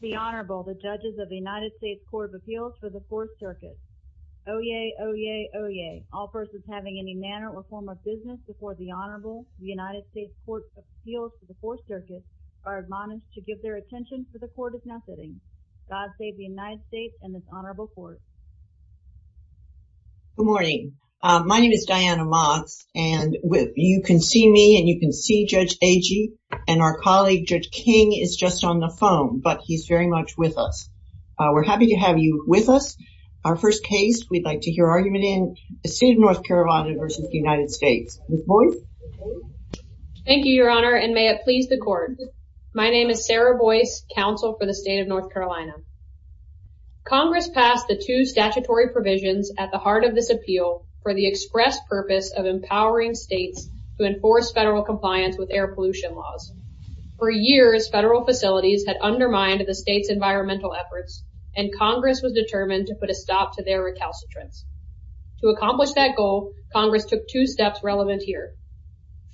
The Honorable, the judges of the United States Court of Appeals for the Fourth Circuit. Oyez, oyez, oyez, all persons having any manner or form of business before the Honorable, the United States Court of Appeals for the Fourth Circuit, are admonished to give their attention to the court of not sitting. God save the United States and this Honorable Court. Good morning, my name is Diana Motz and you can see me and you can see Judge Agee and our colleague Judge King is just on the phone, but he's very much with us. We're happy to have you with us. Our first case, we'd like to hear argument in the State of North Carolina v. the United States. Ms. Boyce. Thank you, Your Honor, and may it please the court. My name is Sarah Boyce, counsel for the State of North Carolina. Congress passed the two statutory provisions at the heart of this appeal for the express purpose of empowering states to enforce federal compliance with air pollution laws. For years, federal facilities had undermined the state's environmental efforts and Congress was determined to put a stop to their recalcitrance. To accomplish that goal, Congress took two steps relevant here.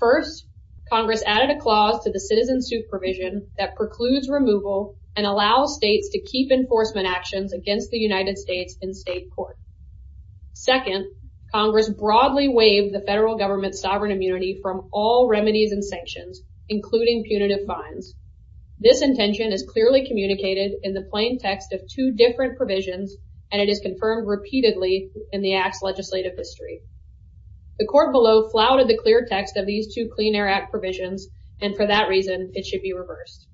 First, Congress added a clause to the citizen supervision that precludes removal and allows states to keep enforcement actions against the United States in state court. Second, Congress broadly waived the federal government's sovereign immunity from all remedies and sanctions, including punitive fines. This intention is clearly communicated in the plain text of two different provisions and it is confirmed repeatedly in the act's legislative history. The court below flouted the clear text of these two Clean Air Act provisions and for that reason, it should be reversed.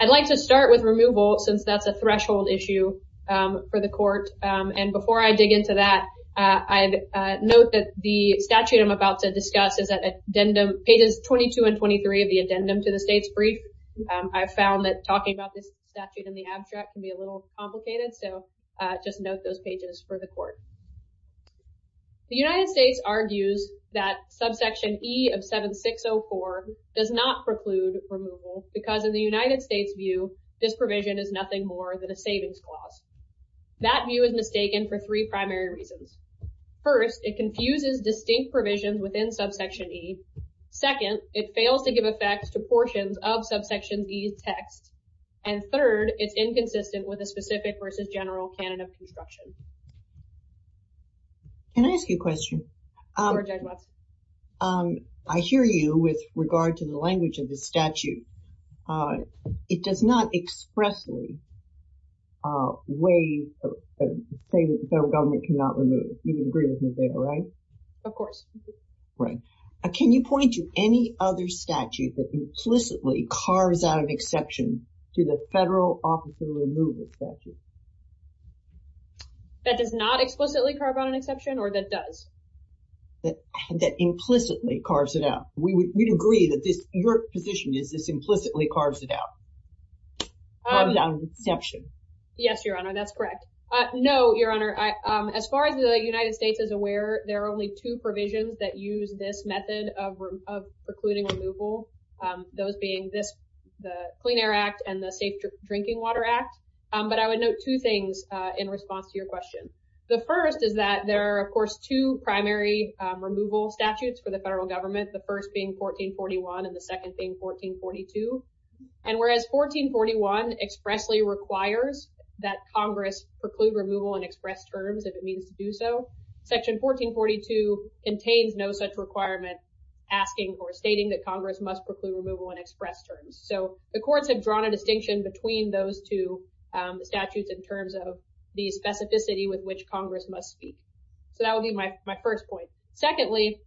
I'd like to start with removal since that's a threshold issue for the court and before I dig into that, I'd note that the statute I'm about to discuss is at pages 22 and 23 of the addendum to the state's brief. I found that talking about this statute in the abstract can be a little complicated so just note those pages for the court. The United States argues that subsection E of 7604 does not preclude removal because in the United States' view, this provision is nothing more than a savings clause. That view is mistaken for three primary reasons. First, it confuses distinct provisions within subsection E. Second, it fails to give effect to portions of subsection E's text. And third, it's inconsistent with a specific versus general canon of construction. Can I ask you a question? I hear you with regard to the language of the statute. It does not expressly say that the federal government cannot remove. You would agree with me there, right? Of course. Right. Can you point to any other statute that implicitly carves out an exception to the federal office of removal statute? That does not explicitly carve out an exception or that does? That implicitly carves it out. We'd agree that your position is this implicitly carves it out. Carves out an exception. Yes, Your Honor, that's correct. No, Your Honor, as far as the United States is aware, there are only two provisions that use this method of precluding removal. Those being this, the Clean Air Act and the Safe Drinking Water Act. But I would note two things in response to your question. The first is that there are, of course, two primary removal statutes for the federal government, the first being 1441 and the second being 1442. And whereas 1441 expressly requires that Congress preclude removal in express terms, it contains no such requirement asking or stating that Congress must preclude removal in express terms, so the courts have drawn a distinction between those two statutes in terms of the specificity with which Congress must speak. So that would be my first point. Secondly,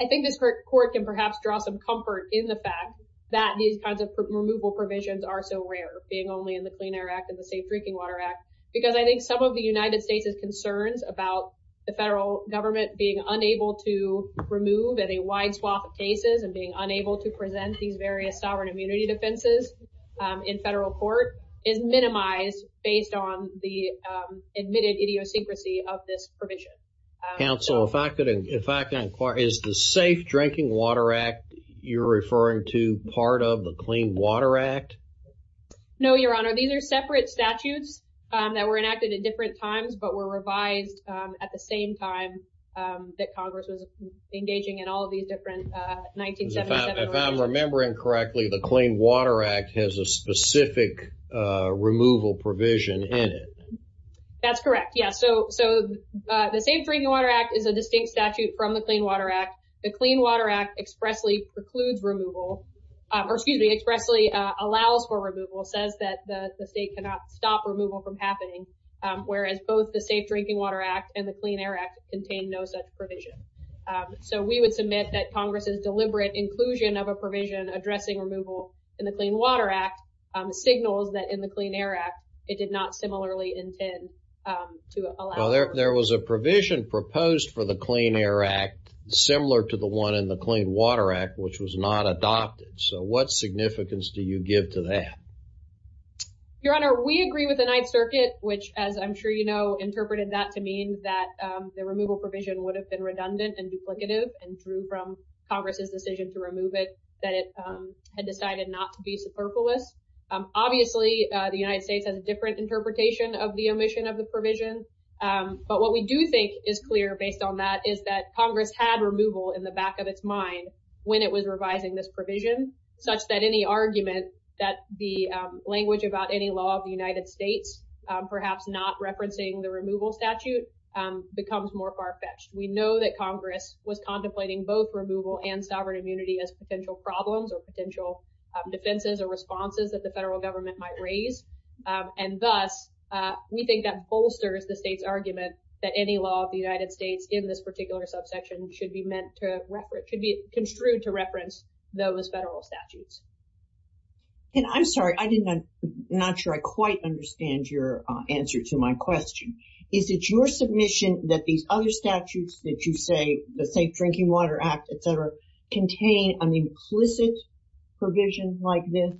I think this court can perhaps draw some comfort in the fact that these kinds of removal provisions are so rare, being only in the Clean Air Act and the Safe Drinking Water Act, because I think some of the United States' concerns about the federal government being unable to remove at a wide swath of cases and being unable to present these various sovereign immunity defenses in federal court is minimized based on the admitted idiosyncrasy of this provision. Counsel, if I could inquire, is the Safe Drinking Water Act you're referring to part of the Clean Water Act? No, Your Honor. These are separate statutes that were enacted at different times, but were enacted at the same time that Congress was engaging in all of these different 1977 revisions. If I'm remembering correctly, the Clean Water Act has a specific removal provision in it. That's correct, yes. So the Safe Drinking Water Act is a distinct statute from the Clean Water Act. The Clean Water Act expressly precludes removal, or excuse me, expressly allows for removal, says that the state cannot stop removal from happening, whereas both the Safe Drinking Water Act and the Clean Air Act contain no such provision. So we would submit that Congress's deliberate inclusion of a provision addressing removal in the Clean Water Act signals that in the Clean Air Act, it did not similarly intend to allow. There was a provision proposed for the Clean Air Act similar to the one in the Clean Water Act, which was not adopted. So what significance do you give to that? Your Honor, we agree with the Ninth Circuit, which, as I'm sure you know, interpreted that to mean that the removal provision would have been redundant and duplicative and through from Congress's decision to remove it, that it had decided not to be superfluous. Obviously, the United States has a different interpretation of the omission of the provision. But what we do think is clear based on that is that Congress had removal in the back of its mind when it was revising this provision, such that any argument that the language about any law of the United States, perhaps not referencing the removal statute, becomes more far-fetched. We know that Congress was contemplating both removal and sovereign immunity as potential problems or potential defenses or responses that the federal government might raise. And thus, we think that bolsters the state's argument that any law of this particular subsection should be meant to reference, should be construed to reference those federal statutes. And I'm sorry, I did not not sure I quite understand your answer to my question. Is it your submission that these other statutes that you say, the Safe Drinking Water Act, etc., contain an implicit provision like this?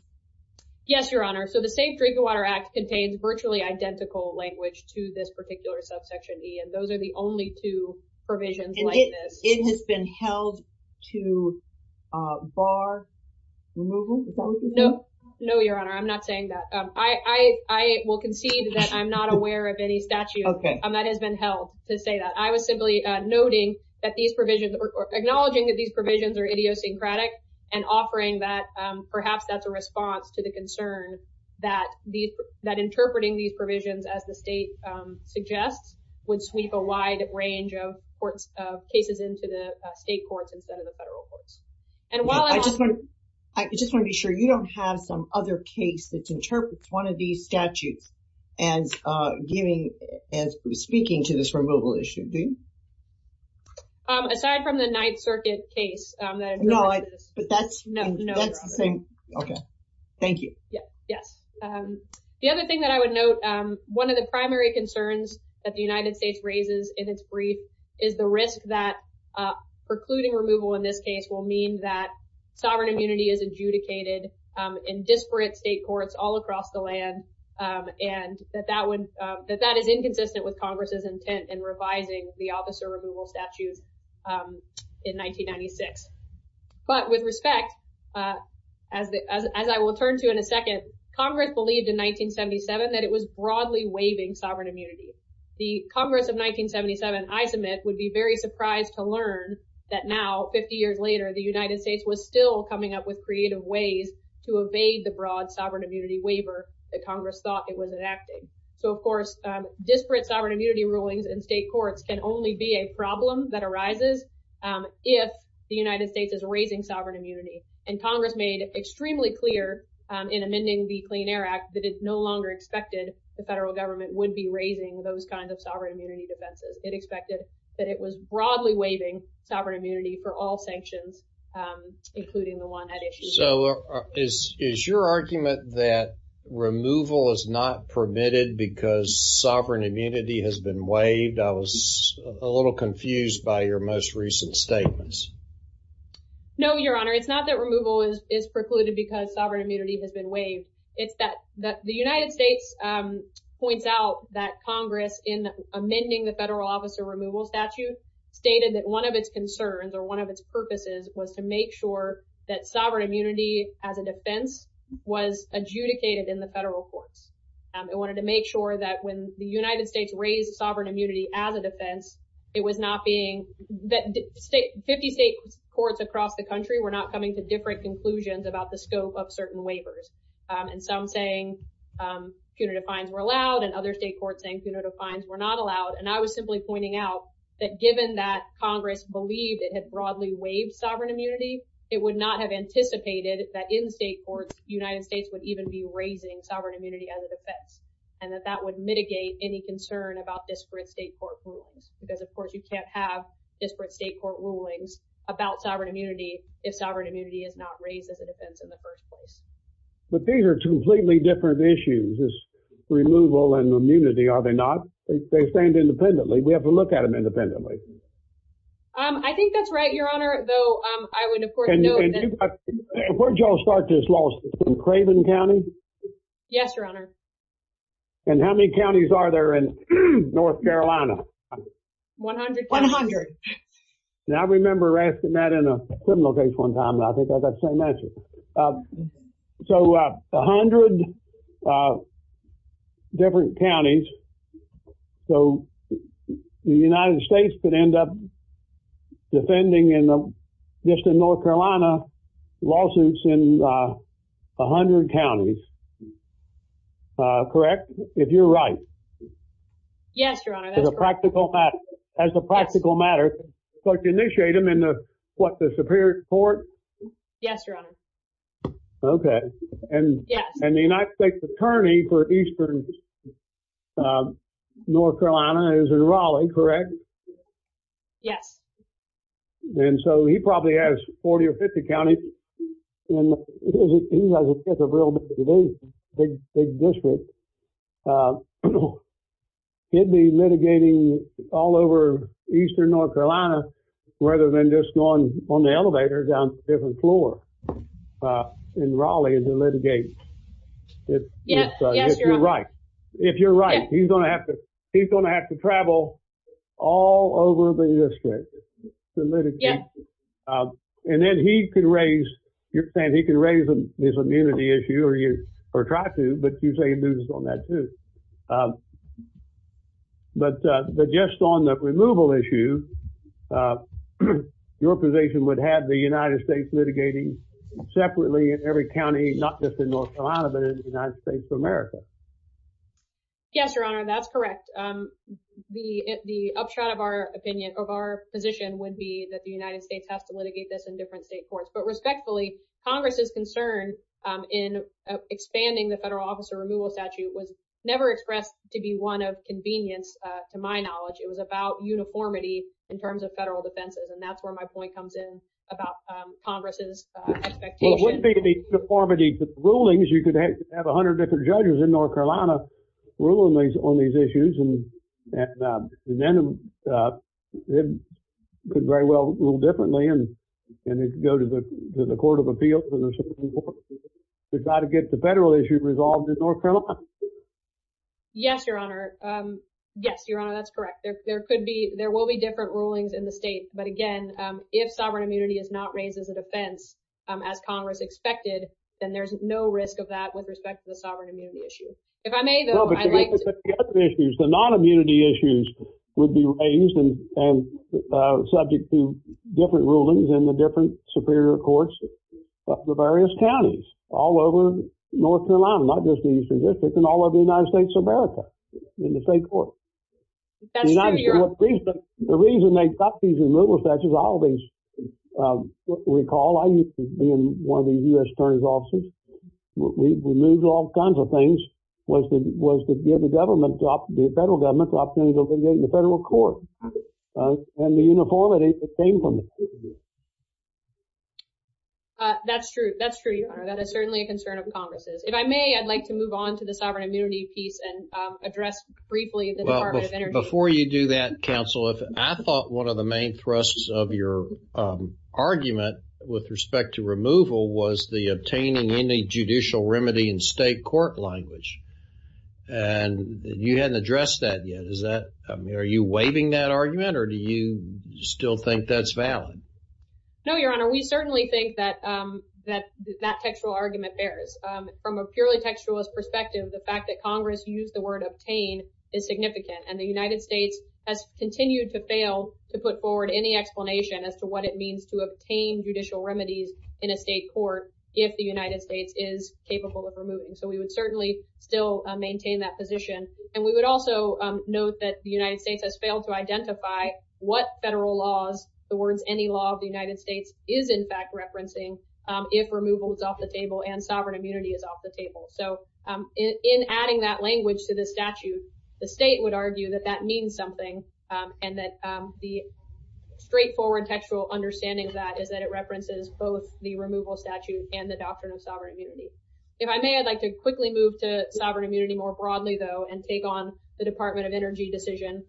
Yes, Your Honor. So the Safe Drinking Water Act contains virtually identical language to this particular subsection E. And those are the only two provisions like this. It has been held to bar removal? No. No, Your Honor, I'm not saying that. I will concede that I'm not aware of any statute that has been held to say that. I was simply noting that these provisions or acknowledging that these provisions are idiosyncratic and offering that perhaps that's a response to the concern that interpreting these provisions, as the state suggests, would sweep a wide range of cases into the state courts instead of the federal courts. And while I just want to be sure you don't have some other case that interprets one of these statutes as giving, as speaking to this removal issue, do you? Aside from the Ninth Circuit case. No, but that's the same. OK, thank you. Yes. The other thing that I would note, one of the primary concerns that the United States raises in its brief is the risk that precluding removal in this case will mean that sovereign immunity is adjudicated in disparate state courts all across the land and that that is inconsistent with Congress's intent in revising the officer removal statute in 1996. But with respect, as I will turn to in a second, Congress believed in 1977 that it was broadly waiving sovereign immunity. The Congress of 1977, I submit, would be very surprised to learn that now, 50 years later, the United States was still coming up with creative ways to evade the broad sovereign immunity waiver that Congress thought it was enacting. So, of course, disparate sovereign immunity rulings in state courts can only be a reason that the United States is raising sovereign immunity and Congress made extremely clear in amending the Clean Air Act that it no longer expected the federal government would be raising those kinds of sovereign immunity defenses. It expected that it was broadly waiving sovereign immunity for all sanctions, including the one at issue. So is your argument that removal is not permitted because sovereign immunity has been waived? I was a little confused by your most recent statements. No, Your Honor, it's not that removal is precluded because sovereign immunity has been waived. It's that the United States points out that Congress, in amending the federal officer removal statute, stated that one of its concerns or one of its purposes was to make sure that sovereign immunity as a defense was adjudicated in the federal courts. It wanted to make sure that when the United States raised sovereign immunity as a defense, state courts across the country were not coming to different conclusions about the scope of certain waivers and some saying punitive fines were allowed and other state courts saying punitive fines were not allowed. And I was simply pointing out that given that Congress believed it had broadly waived sovereign immunity, it would not have anticipated that in state courts, the United States would even be raising sovereign immunity as a defense and that that would mitigate any concern about disparate state court rulings, because, of course, you can't have disparate state court rulings about sovereign immunity if sovereign immunity is not raised as a defense in the first place. But these are two completely different issues, removal and immunity, are they not? They stand independently. We have to look at them independently. I think that's right, Your Honor, though. I would of course note that. Where did you all start this lawsuit, in Craven County? Yes, Your Honor. And how many counties are there in North Carolina? One hundred. Now, I remember asking that in a criminal case one time, and I think I got the same answer. So a hundred different counties. So the United States could end up defending in the District of North Carolina lawsuits in a hundred counties. Correct, if you're right. Yes, Your Honor, that's correct. As a practical matter, so to initiate them in the, what, the Superior Court? Yes, Your Honor. OK. And the United States Attorney for Eastern North Carolina is in Raleigh, correct? Yes. And so he probably has 40 or 50 counties, and he has a real big district. He'd be litigating all over Eastern North Carolina, rather than just going on the elevator down to a different floor in Raleigh to litigate. Yes, Your Honor. If you're right, he's going to have to travel all over the district to litigate. And then he could raise, you're saying he could raise this immunity issue, or try to, but you say he'd do this on that too. But just on the removal issue, your position would have the United States litigating separately in every county, not just in North Carolina, but in the United States of America. Yes, Your Honor, that's correct. The upshot of our opinion, of our position would be that the United States has to litigate this in different state courts. But respectfully, Congress's concern in expanding the federal officer removal statute was never expressed to be one of convenience, to my knowledge. It was about uniformity in terms of federal defenses. And that's where my point comes in, about Congress's expectation. Well, it wouldn't be to be uniformity rulings. You could have a hundred different judges in North Carolina ruling on these issues. And then it could very well rule differently, and it could go to the court of appeals, and there's some important issues, but you've got to get the federal issue resolved in North Carolina. Yes, Your Honor. Yes, Your Honor, that's correct. There could be, there will be different rulings in the state. But again, if sovereign immunity is not raised as a defense, as Congress expected, then there's no risk of that with respect to the sovereign immunity issue. If I may, though, I'd like to- No, but the other issues, the non-immunity issues would be raised and subject to different rulings in the different superior courts of the various counties, all over North Carolina, not just the Eastern District, but in all of the United States of America, in the state courts. That's true, Your Honor. The reason they stopped these removal statutes, I recall, I used to be in one of these U.S. attorney's offices, we removed all kinds of things, was to give the government, the federal government, the opportunity to get in the federal court. And the uniformity that came from it. That's true. That's true, Your Honor. That is certainly a concern of Congress's. If I may, I'd like to move on to the sovereign immunity piece and address briefly the Department of Energy. Before you do that, counsel, I thought one of the main thrusts of your argument with respect to removal was the obtaining any judicial remedy in state court language, and you hadn't addressed that yet. Is that, are you waiving that argument or do you still think that's valid? No, Your Honor. We certainly think that that textual argument bears. From a purely textualist perspective, the fact that Congress used the word obtain is significant and the United States has continued to fail to put forward any explanation as to what it means to obtain judicial remedies in a state court, if the United States is capable of removing. So we would certainly still maintain that position. And we would also note that the United States has failed to identify what is in fact referencing if removal is off the table and sovereign immunity is off the table. So in adding that language to the statute, the state would argue that that means something and that the straightforward textual understanding of that is that it references both the removal statute and the doctrine of sovereign immunity. If I may, I'd like to quickly move to sovereign immunity more broadly, though, and take on the Department of Energy decision,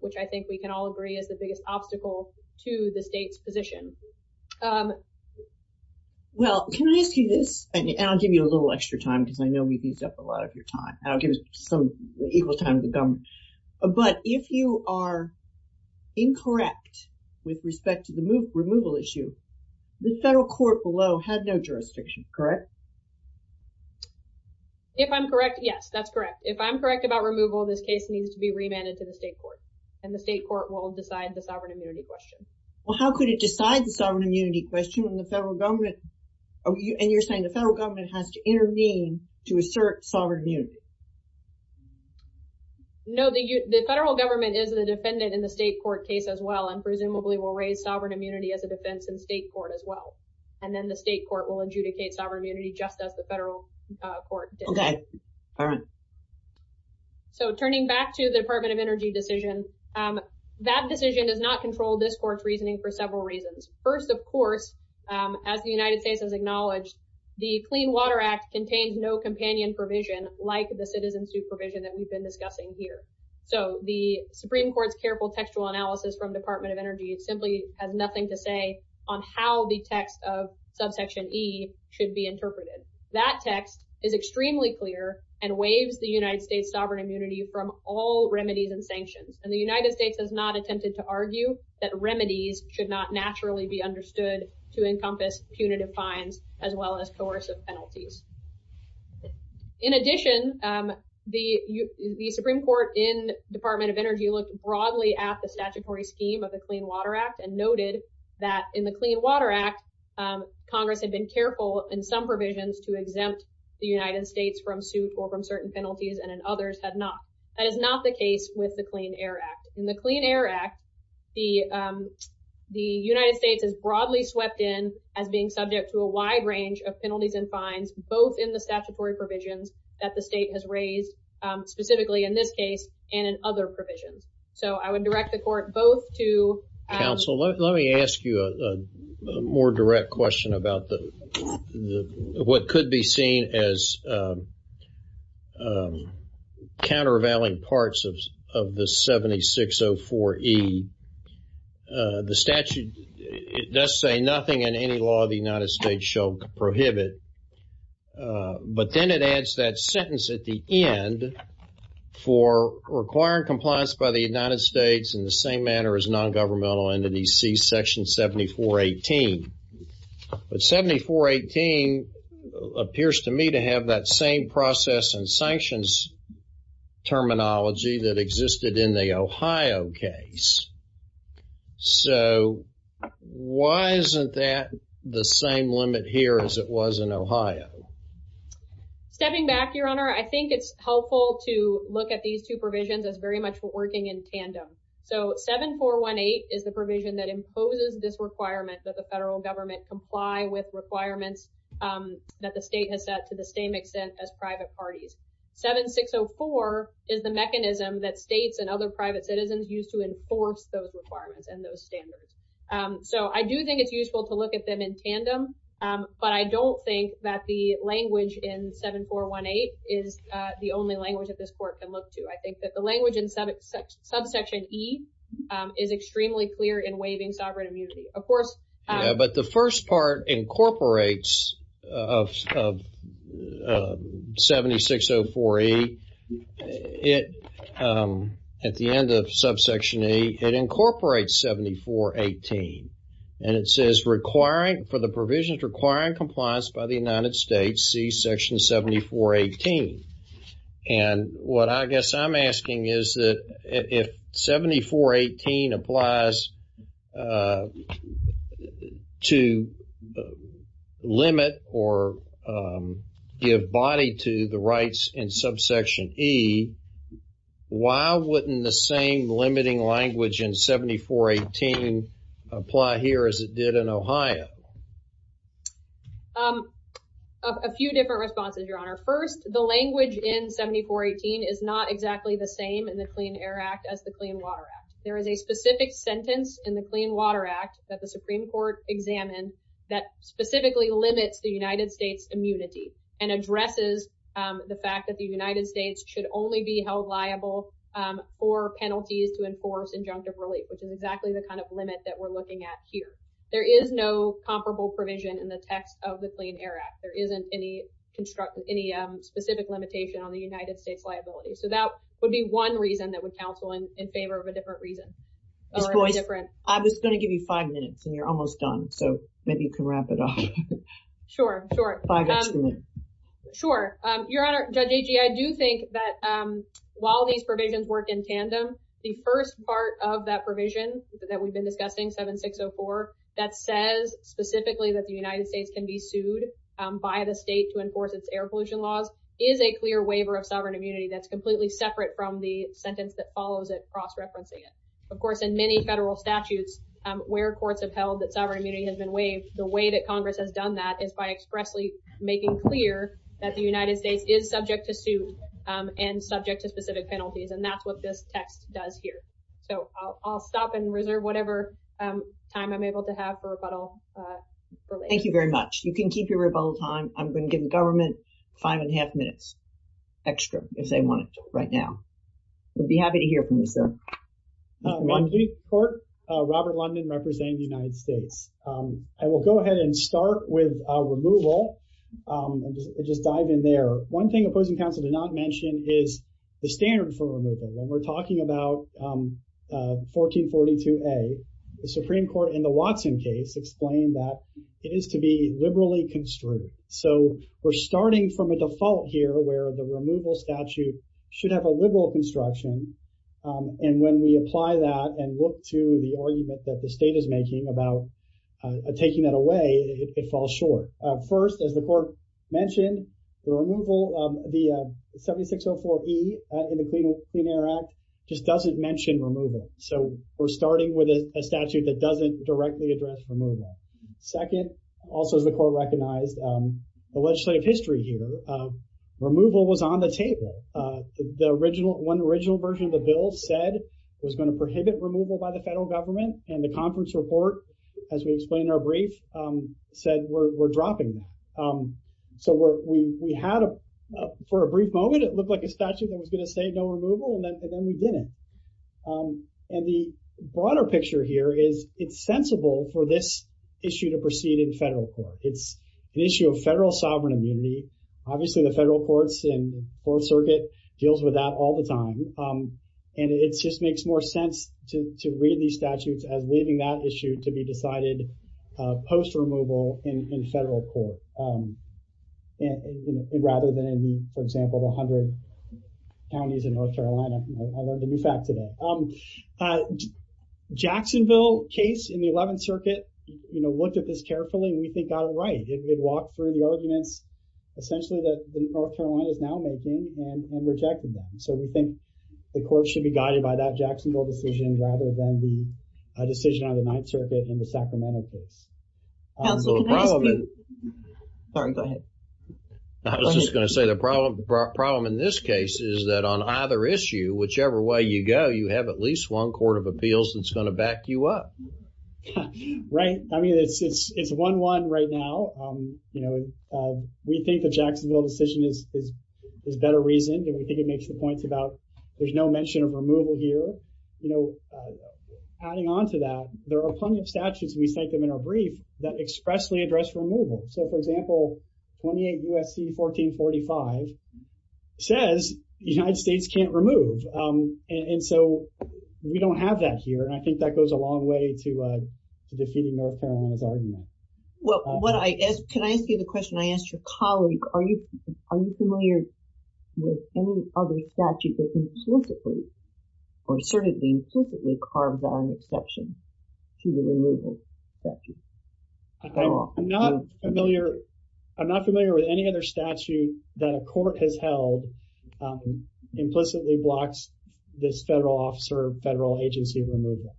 which I think we can all agree is the biggest obstacle to the state's position. Well, can I ask you this, and I'll give you a little extra time because I know we've used up a lot of your time, and I'll give us some equal time to go. But if you are incorrect with respect to the removal issue, the federal court below had no jurisdiction, correct? If I'm correct, yes, that's correct. If I'm correct about removal, this case needs to be remanded to the state court and the state court will decide the sovereign immunity question. Well, how could it decide the sovereign immunity question when the federal government, and you're saying the federal government has to intervene to assert sovereign immunity? No, the federal government is the defendant in the state court case as well, and presumably will raise sovereign immunity as a defense in state court as well, and then the state court will adjudicate sovereign immunity just as the federal court did. Okay, all right. So turning back to the Department of Energy decision, that decision does not control this court's reasoning for several reasons. First, of course, as the United States has acknowledged, the Clean Water Act contains no companion provision like the citizen supervision that we've been discussing here. So the Supreme Court's careful textual analysis from Department of Energy simply has nothing to say on how the text of subsection E should be interpreted. That text is extremely clear and waives the United States sovereign immunity from all remedies and sanctions, and the United States has not attempted to argue that remedies should not naturally be understood to encompass punitive fines as well as coercive penalties. In addition, the Supreme Court in Department of Energy looked broadly at the statutory scheme of the Clean Water Act and noted that in the Clean Water Act, Congress had been careful in some provisions to exempt the United States from suit or from certain penalties and in others had not. That is not the case with the Clean Air Act. In the Clean Air Act, the United States is broadly swept in as being subject to a wide range of penalties and fines, both in the statutory provisions that the state has raised specifically in this case and in other provisions. So I would direct the court both to- Counsel, let me ask you a more direct question about what could be seen as a 7604E, the statute, it does say nothing in any law of the United States shall prohibit, but then it adds that sentence at the end for requiring compliance by the United States in the same manner as non-governmental entities, see section 7418. But 7418 appears to me to have that same process and sanctions terminology that existed in the Ohio case. So why isn't that the same limit here as it was in Ohio? Stepping back, your honor, I think it's helpful to look at these two provisions as very much working in tandem. So 7418 is the provision that imposes this requirement that the federal government comply with requirements that the state has set to the same extent as private parties. 7604 is the mechanism that states and other private citizens use to enforce those requirements and those standards. So I do think it's useful to look at them in tandem, but I don't think that the language in 7418 is the only language that this court can look to. I think that the language in subsection E is extremely clear in waiving sovereign immunity. Of course- 7604E, at the end of subsection E, it incorporates 7418 and it says requiring for the provisions requiring compliance by the United States, see section 7418. And what I guess I'm asking is that if 7418 applies to limit or give body to the rights in subsection E, why wouldn't the same limiting language in 7418 apply here as it did in Ohio? A few different responses, your honor. First, the language in 7418 is not exactly the same in the Clean Air Act as the Clean Water Act. There is a specific sentence in the Clean Water Act that the Supreme Court examined that specifically limits the United States immunity and addresses the fact that the United States should only be held liable for penalties to enforce injunctive relief, which is exactly the kind of limit that we're looking at here. There is no comparable provision in the text of the Clean Air Act. There isn't any specific limitation on the United States liability. So that would be one reason that would counsel in favor of a different reason. I was going to give you five minutes and you're almost done, so maybe you can wrap it up. Sure, sure. Your honor, Judge Agee, I do think that while these provisions work in tandem, the first part of that provision that we've been discussing, 7604, that says specifically that the United States can be sued by the state to enforce its air pollution laws is a clear waiver of sovereign immunity that's completely separate from the sentence that follows it, cross-referencing it. Of course, in many federal statutes where courts have held that sovereign immunity has been waived, the way that Congress has done that is by expressly making clear that the United States is subject to suit and subject to specific penalties. And that's what this text does here. So I'll stop and reserve whatever time I'm able to have for rebuttal. Thank you very much. You can keep your rebuttal time. I'm going to give the government five and a half minutes extra if they want it right now. I'd be happy to hear from you, sir. I'm Chief Court, Robert London representing the United States. I will go ahead and start with removal and just dive in there. One thing opposing counsel did not mention is the standard for removal. When we're talking about 1442A, the Supreme Court in the Watson case explained that it is to be liberally construed. So we're starting from a default here where the removal statute should have a liberal construction. And when we apply that and look to the argument that the state is making about taking that away, it falls short. First, as the court mentioned, the removal of the 7604E in the Clean Air Act just doesn't mention removal. So we're starting with a statute that doesn't directly address removal. Second, also as the court recognized, the legislative history here, removal was on the table. The original, one original version of the bill said it was going to prohibit removal by the federal government. And the conference report, as we explained in our brief, said we're dropping that. So we had for a brief moment, it looked like a statute that was going to say no removal, and then we didn't. And the broader picture here is it's sensible for this issue to proceed in federal court. It's an issue of federal sovereign immunity. Obviously the federal courts and fourth circuit deals with that all the time. And it's just makes more sense to read these statutes as leaving that issue to be decided post removal in federal court, rather than in, for example, 100 counties in North Carolina. I learned a new fact today. Jacksonville case in the 11th circuit, you know, looked at this carefully and we think got it right. It did walk through the arguments essentially that North Carolina is now making and rejected them. So we think the court should be guided by that Jacksonville decision, rather than the decision on the ninth circuit in the Sacramento case. I was just going to say the problem in this case is that on either issue, whichever way you go, you have at least one court of appeals that's going to back you up. Right. I mean, it's 1-1 right now. You know, we think the Jacksonville decision is better reasoned. We think it makes the points about there's no mention of removal here. You know, adding on to that, there are plenty of statutes. We cite them in our brief that expressly address removal. So for example, 28 USC 1445 says the United States can't remove. And so we don't have that here. And I think that goes a long way to defeating North Carolina's argument. Well, what I asked, can I ask you the question I asked your colleague? Are you familiar with any other statute that implicitly or certainly implicitly carves on exception to the removal statute? I'm not familiar. I'm not familiar with any other statute that a court has held implicitly blocks this federal officer, federal agency removal.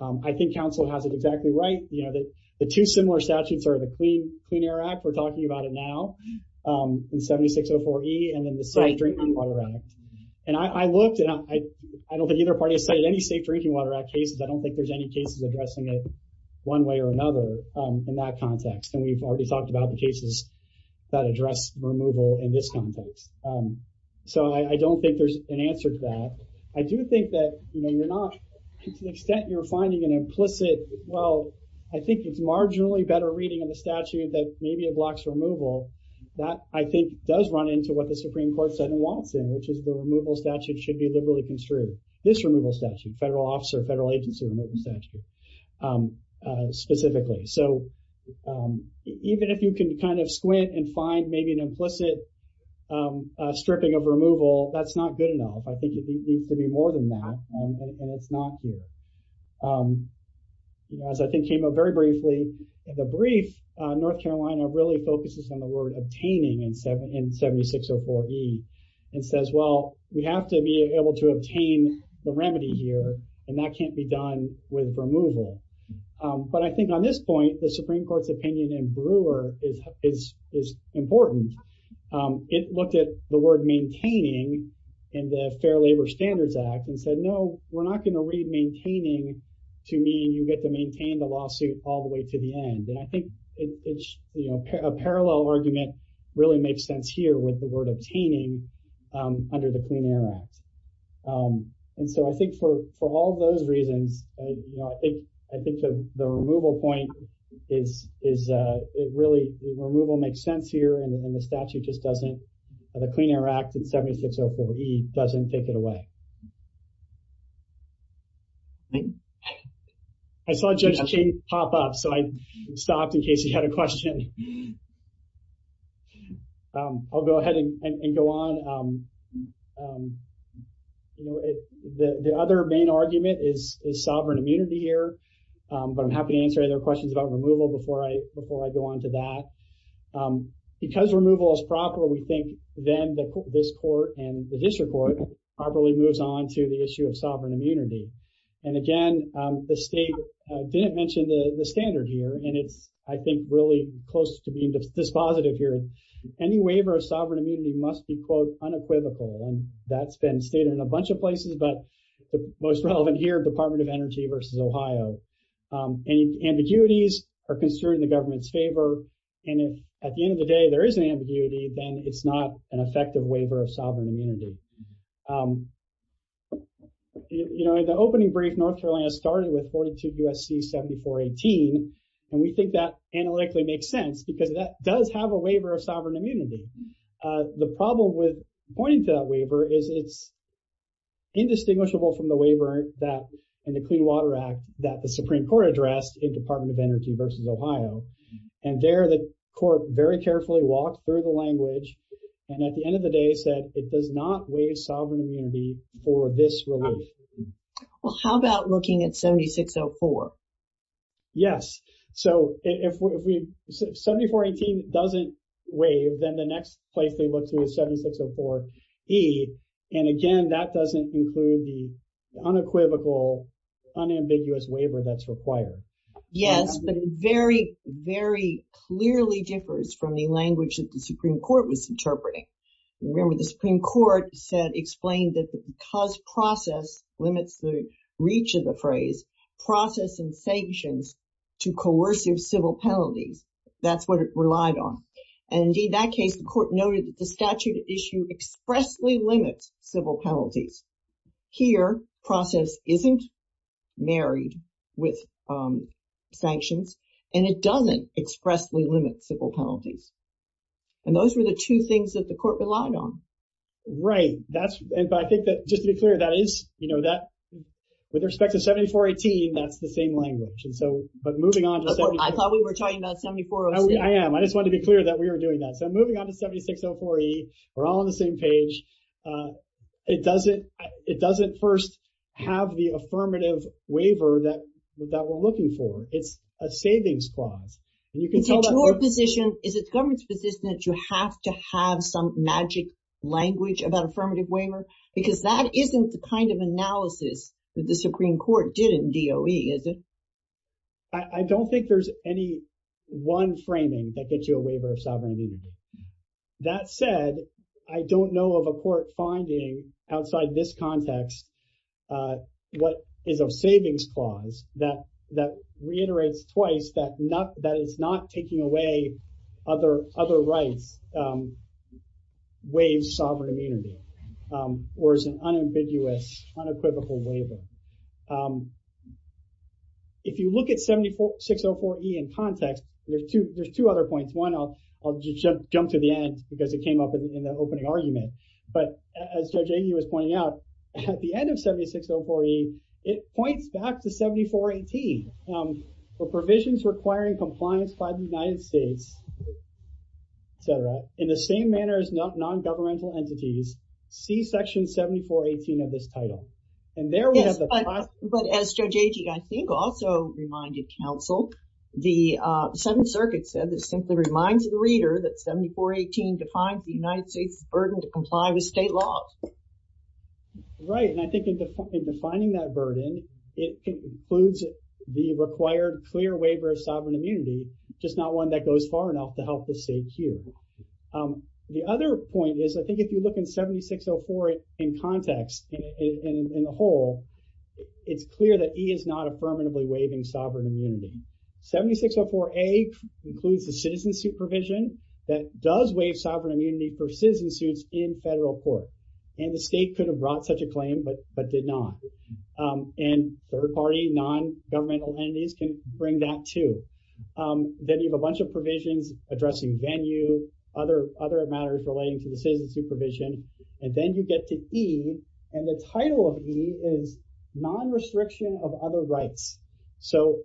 I think counsel has it exactly right. You know, the two similar statutes are the Clean Air Act. We're talking about it now. In 7604E and then the Safe Drinking Water Act. And I looked and I don't think either party has cited any Safe Drinking Water Act cases. I don't think there's any cases addressing it one way or another in that context. And we've already talked about the cases that address removal in this context. So I don't think there's an answer to that. I do think that, you know, you're not to the extent you're finding an implicit. Well, I think it's marginally better reading of the statute that maybe it blocks removal. That, I think, does run into what the Supreme Court said in Watson, which is the removal statute should be liberally construed. This removal statute, federal officer, federal agency removal statute specifically. So even if you can kind of squint and find maybe an implicit stripping of removal, that's not good enough. I think it needs to be more than that. And it's not here. You know, as I think came up very briefly in the brief, North Carolina really focuses on the word obtaining in 7704E and says, well, we have to be able to obtain the remedy here. And that can't be done with removal. But I think on this point, the Supreme Court's opinion in Brewer is important. It looked at the word maintaining in the Fair Labor Standards Act and said, no, we're not going to read maintaining to mean you get to maintain the lawsuit all the way to the end. And I think it's a parallel argument really makes sense here with the word obtaining under the Clean Air Act. And so I think for all those reasons, I think the removal point is it really, removal makes sense here. And the statute just doesn't, the Clean Air Act in 7604E doesn't take it away. I saw Judge Cheney pop up, so I stopped in case he had a question. I'll go ahead and go on. The other main argument is sovereign immunity here. But I'm happy to answer any questions about removal before I go on to that. Because removal is proper, we think then this court and the district court properly moves on to the issue of sovereign immunity. And again, the state didn't mention the standard here. And it's, I think, really close to being dispositive here. Any waiver of sovereign immunity must be, quote, unequivocal. And that's been stated in a bunch of places, but the most relevant here, Department of Energy versus Ohio. And ambiguities are construed in the government's favor. And at the end of the day, there is an ambiguity, then it's not an effective waiver of sovereign immunity. You know, in the opening brief, North Carolina started with 42 U.S.C. 7418, and we think that analytically makes sense because that does have a waiver of sovereign immunity. The problem with pointing to that waiver is it's indistinguishable from the waiver that, in the Clean Water Act, that the Supreme Court addressed in Department of Energy versus Ohio. And there, the court very carefully walked through the language. And at the end of the day, said it does not waive sovereign immunity for this relief. Well, how about looking at 7604? Yes. So if 7418 doesn't waive, then the next place they look to is 7604E. And again, that doesn't include the unequivocal, unambiguous waiver that's required. Yes, but very, very clearly differs from the language that the Supreme Court was interpreting. Remember, the Supreme Court said, explained that because process limits the reach of the phrase process and sanctions to coercive civil penalties. That's what it relied on. And in that case, the court noted that the statute issue expressly limits civil penalties. Here, process isn't married with sanctions and it doesn't expressly limit civil penalties. And those were the two things that the court relied on. Right. That's why I think that, just to be clear, that is, you know, that with respect to 7418, that's the same language. And so, but moving on. I thought we were talking about 7604E. I am. I just want to be clear that we were doing that. So moving on to 7604E, we're all on the same page. It doesn't, it doesn't first have the affirmative waiver that we're looking for. It's a savings clause. Is it your position, is it the government's position that you have to have some magic language about affirmative waiver? Because that isn't the kind of analysis that the Supreme Court did in DOE, is it? I don't think there's any one framing that gets you a waiver of sovereignty. That said, I don't know of a court finding outside this context, what is a savings clause that reiterates twice that it's not taking away other rights, waives sovereignty or is an unambiguous, unequivocal waiver. If you look at 7604E in context, there's two other points. One, I'll just jump to the end because it came up in the opening argument. But as Judge Agee was pointing out, at the end of 7604E, it points back to 7418 for provisions requiring compliance by the United States, et cetera, in the same manner as non-governmental entities. See section 7418 of this title. And there we have the- Yes, but as Judge Agee, I think, also reminded counsel, the Seventh Circuit said that it simply reminds the reader that 7418 defines the United States' burden to comply with state laws. Right. And I think in defining that burden, it includes the required clear waiver of sovereign immunity, just not one that goes far enough to help the state queue. The other point is, I think, if you look in 7604 in context, in the whole, it's clear that E is not a permanently waiving sovereign immunity. 7604A includes the citizen supervision that does waive sovereign immunity for citizen suits in federal court. And the state could have brought such a claim, but did not. And third party, non-governmental entities can bring that too. Then you have a bunch of provisions addressing venue, other matters relating to the citizen supervision. And then you get to E, and the title of E is non-restriction of other rights. So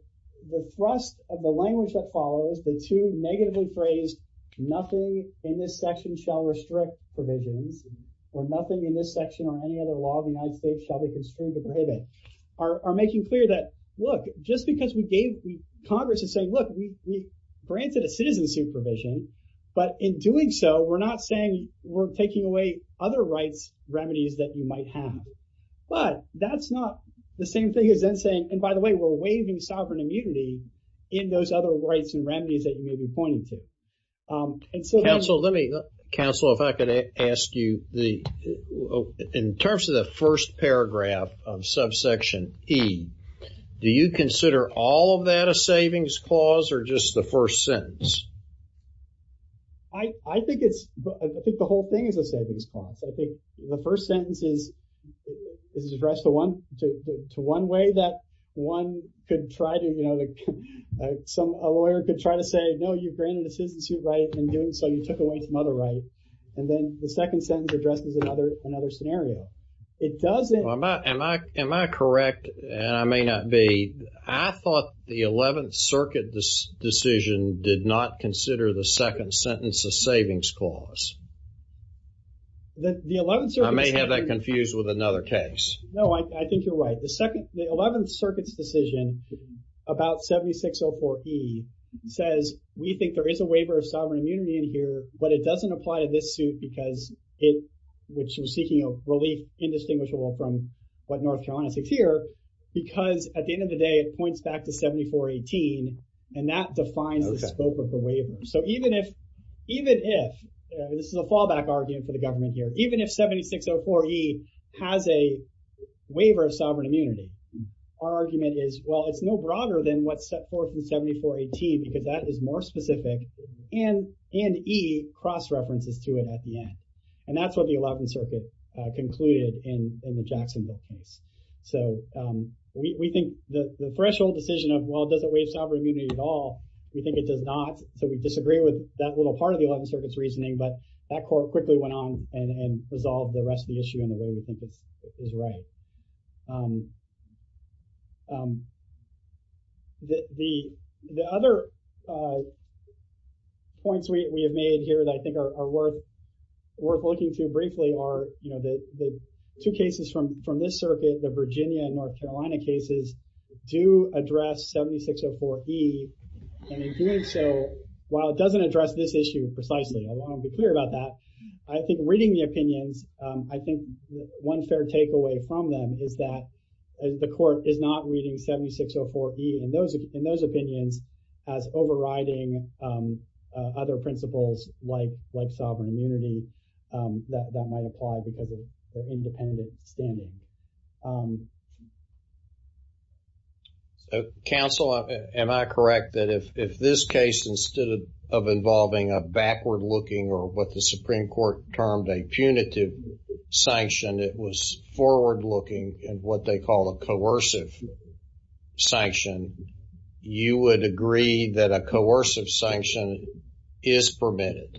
the thrust of the language that follows, the two negatively phrased, nothing in this section shall restrict provisions, or nothing in this section or any other law of the United States shall be construed to prohibit, are making clear that, look, just because we gave, Congress is saying, look, we granted a citizen supervision, but in doing so, we're not saying we're taking away other rights remedies that you might have. But that's not the same thing as then saying, and by the way, we're waiving sovereign immunity in those other rights and remedies that you may be pointing to. Counsel, let me, counsel, if I could ask you the, in terms of the first paragraph of subsection E, do you consider all of that a savings clause or just the first sentence? I think it's, I think the whole thing is a savings clause. I think the first sentence is, is addressed to one, to one way that one could try to, you know, some, a lawyer could try to say, no, you've granted a citizen's right in doing so, you took away some other right. And then the second sentence addresses another, another scenario. It doesn't. Am I, am I, am I correct? And I may not be, I thought the 11th circuit decision did not consider the second sentence a savings clause. The 11th circuit. I may have that confused with another case. No, I think you're right. The second, the 11th circuit's decision about 7604E says, we think there is a waiver of sovereign immunity in here, but it doesn't apply to this suit because it, which was seeking a relief indistinguishable from what North Carolina seeks here, because at the end of the day, it points back to 7418 and that defines the scope of the waiver. So even if, even if this is a fallback argument for the government here, even if 7604E has a waiver of sovereign immunity, our argument is, well, it's no broader than what's set forth in 7418, because that is more specific and, and E cross references to it at the end. And that's what the 11th circuit concluded in the Jacksonville case. So we think the threshold decision of, well, does it waive sovereign immunity at all? We think it does not. So we disagree with that little part of the 11th circuit's reasoning, but that court quickly went on and resolved the rest of the issue in a way we think is right. The, the, the other points we have made here that I think are worth, worth looking to briefly are, you know, the, the two cases from, from this circuit, the Virginia and North Carolina cases do address 7604E. And in doing so, while it doesn't address this issue precisely, I want to be clear about that. I think reading the opinions, I think one fair takeaway from them is that the court is not reading 7604E in those, in those opinions as overriding other principles like, like sovereign immunity that, that might apply because of their independent standing. Counsel, am I correct that if, if this case, instead of involving a backward looking or what the Supreme Court termed a punitive sanction, it was forward looking and what they call a coercive sanction, you would agree that a coercive sanction is permitted?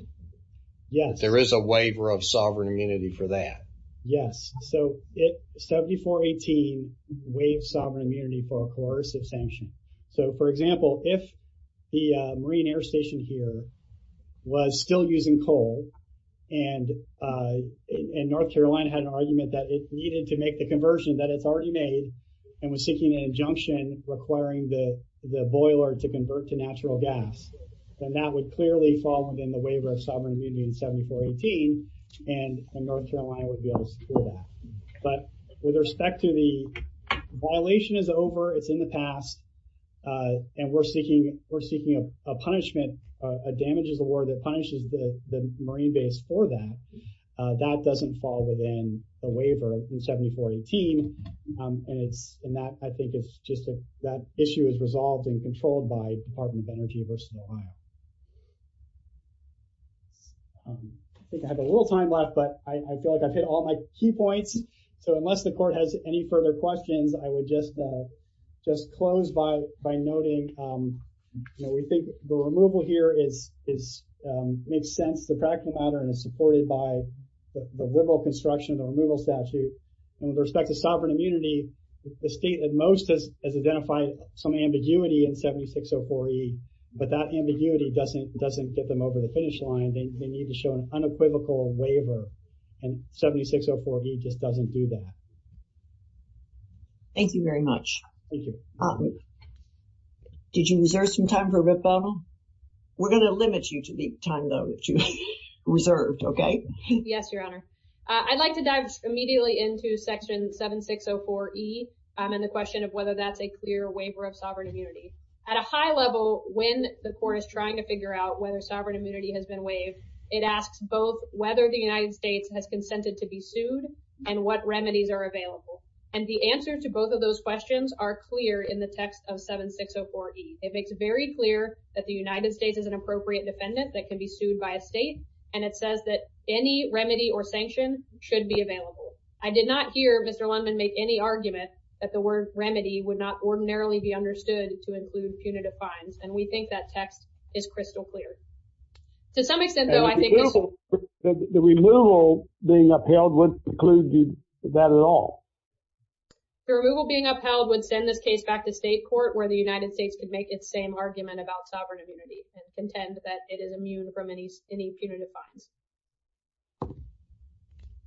Yes. There is a waiver of sovereign immunity for that. Yes. So, it, 7418 waived sovereign immunity for a coercive sanction. So, for example, if the Marine Air Station here was still using coal and, and North Carolina had an argument that it needed to make the conversion that it's already made and was seeking an injunction requiring the, the boiler to convert to natural gas. Then that would clearly fall within the waiver of sovereign immunity in 7418 and North Carolina would be able to secure that. But with respect to the violation is over, it's in the past and we're seeking, we're seeking a punishment, a damages award that punishes the Marine base for that. That doesn't fall within the waiver in 7418 and it's, and that, I think it's just that issue is resolved and controlled by Department of Energy versus Ohio. I think I have a little time left, but I feel like I've hit all my key points. So, unless the court has any further questions, I would just, just close by, by noting, you know, we think the removal here is, is, makes sense. The practical matter is supported by the removal construction, the removal statute and with respect to sovereign immunity, the state at most has, has identified some ambiguity in 7604E, but that ambiguity doesn't, doesn't get them over the finish line. They need to show an unequivocal waiver and 7604E just doesn't do that. Thank you. Did you reserve some time for a bit, Belna? We're going to limit you to the time, though, that you reserved. Okay. Yes, Your Honor. I'd like to dive immediately into section 7604E and the question of whether that's a clear waiver of sovereign immunity. At a high level, when the court is trying to figure out whether sovereign immunity has been waived, it asks both whether the United States has consented to be sued and what remedies are available. And the answer to both of those questions are clear in the text of 7604E. It makes it very clear that the United States is an appropriate defendant that can be sued by a state. And it says that any remedy or sanction should be available. I did not hear Mr. Lundman make any argument that the word remedy would not ordinarily be understood to include punitive fines. And we think that text is crystal clear. To some extent, though, I think the removal being upheld wouldn't include that at all. The removal being upheld would send this case back to state court where the United States could make its same argument about sovereign immunity and contend that it is immune from any punitive fines.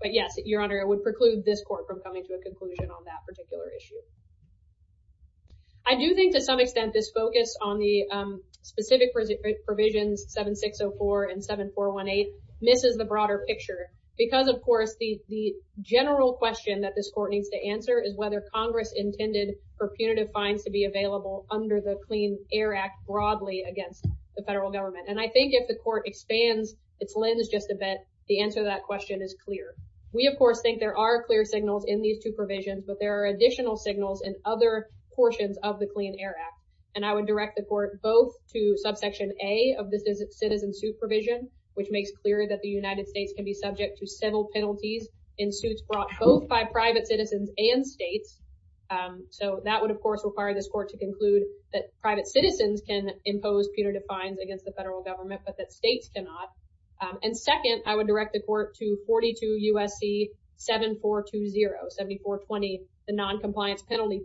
But yes, Your Honor, it would preclude this court from coming to a conclusion on that particular issue. I do think to some extent this focus on the specific provisions 7604 and 7418 misses the broader picture because, of course, the general question that this court needs to answer is whether Congress intended for punitive fines to be available under the Clean Air Act broadly against the federal government. And I think if the court expands its lens just a bit, the answer to that question is clear. We, of course, think there are clear signals in these two provisions, but there are additional signals in other portions of the Clean Air Act. And I would direct the court both to subsection A of this citizen suit provision, which makes clear that the United States can be subject to civil penalties in suits brought both by private citizens and states. So that would, of course, require this court to conclude that private citizens can impose punitive fines against the federal government, but that states cannot. And second, I would direct the court to 42 U.S.C. 7420, 7420, the noncompliance penalty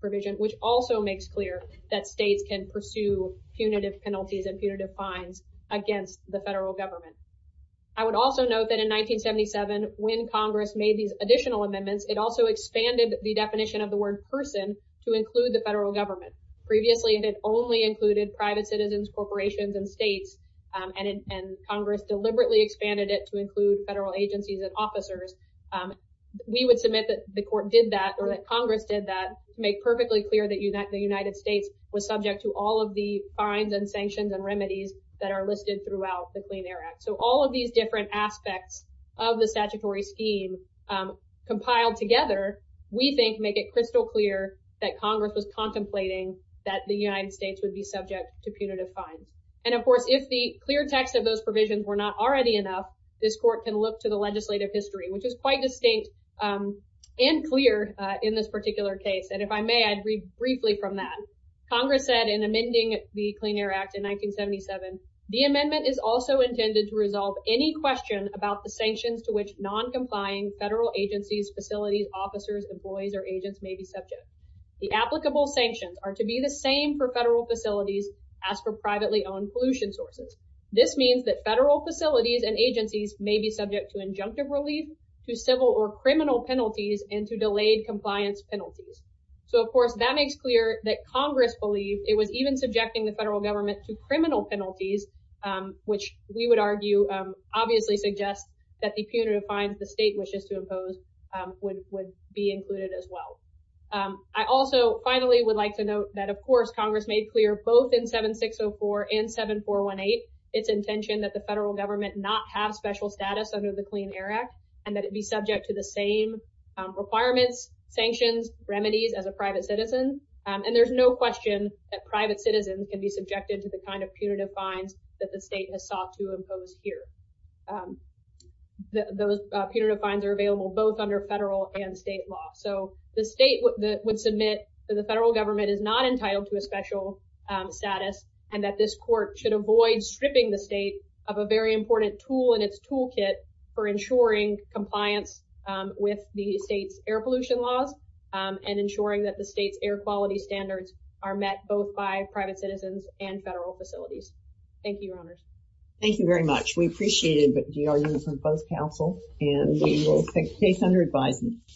provision, which also makes clear that states can pursue punitive penalties and punitive fines against the federal government. I would also note that in 1977, when Congress made these additional amendments, it also expanded the definition of the word person to include the federal government. Previously, it had only included private citizens, corporations and states, and Congress deliberately expanded it to include federal agencies and officers. We would submit that the court did that or that Congress did that to make perfectly clear that the United States was subject to all of the fines and sanctions and remedies that are listed throughout the Clean Air Act. So all of these different aspects of the statutory scheme compiled together, we think, make it crystal clear that Congress was contemplating that the United States would be subject to punitive fines. And, of course, if the clear text of those provisions were not already enough, this court can look to the legislative history, which is quite distinct and clear in this particular case. And if I may, I'd read briefly from that. Congress said in amending the Clean Air Act in 1977, the amendment is also intended to resolve any question about the sanctions to which noncompliant federal agencies, facilities, officers, employees or agents may be subject. The applicable sanctions are to be the same for federal facilities as for privately owned pollution sources. This means that federal facilities and agencies may be subject to injunctive relief, to civil or criminal penalties and to delayed compliance penalties. So, of course, that makes clear that Congress believed it was even subjecting the federal government to criminal penalties, which we would argue obviously suggests that the punitive fines the state wishes to impose would would be included as well. I also finally would like to note that, of course, Congress made clear both in 7604 and 7418 its intention that the federal government not have special status under the Clean Air Act and that it be subject to the same requirements, sanctions, remedies as a private citizen. And there's no question that private citizens can be subjected to the kind of punitive fines that the state has sought to impose here. The punitive fines are available both under federal and state law. So the state would submit that the federal government is not entitled to a special status and that this court should avoid stripping the state of a very important tool in its toolkit for ensuring compliance with the state's air pollution laws and ensuring that the state's air quality standards are met both by private citizens and federal facilities. Thank you, Your Honors. Thank you very much. We appreciate it. But DRU is on both councils and we will take the case under advisement.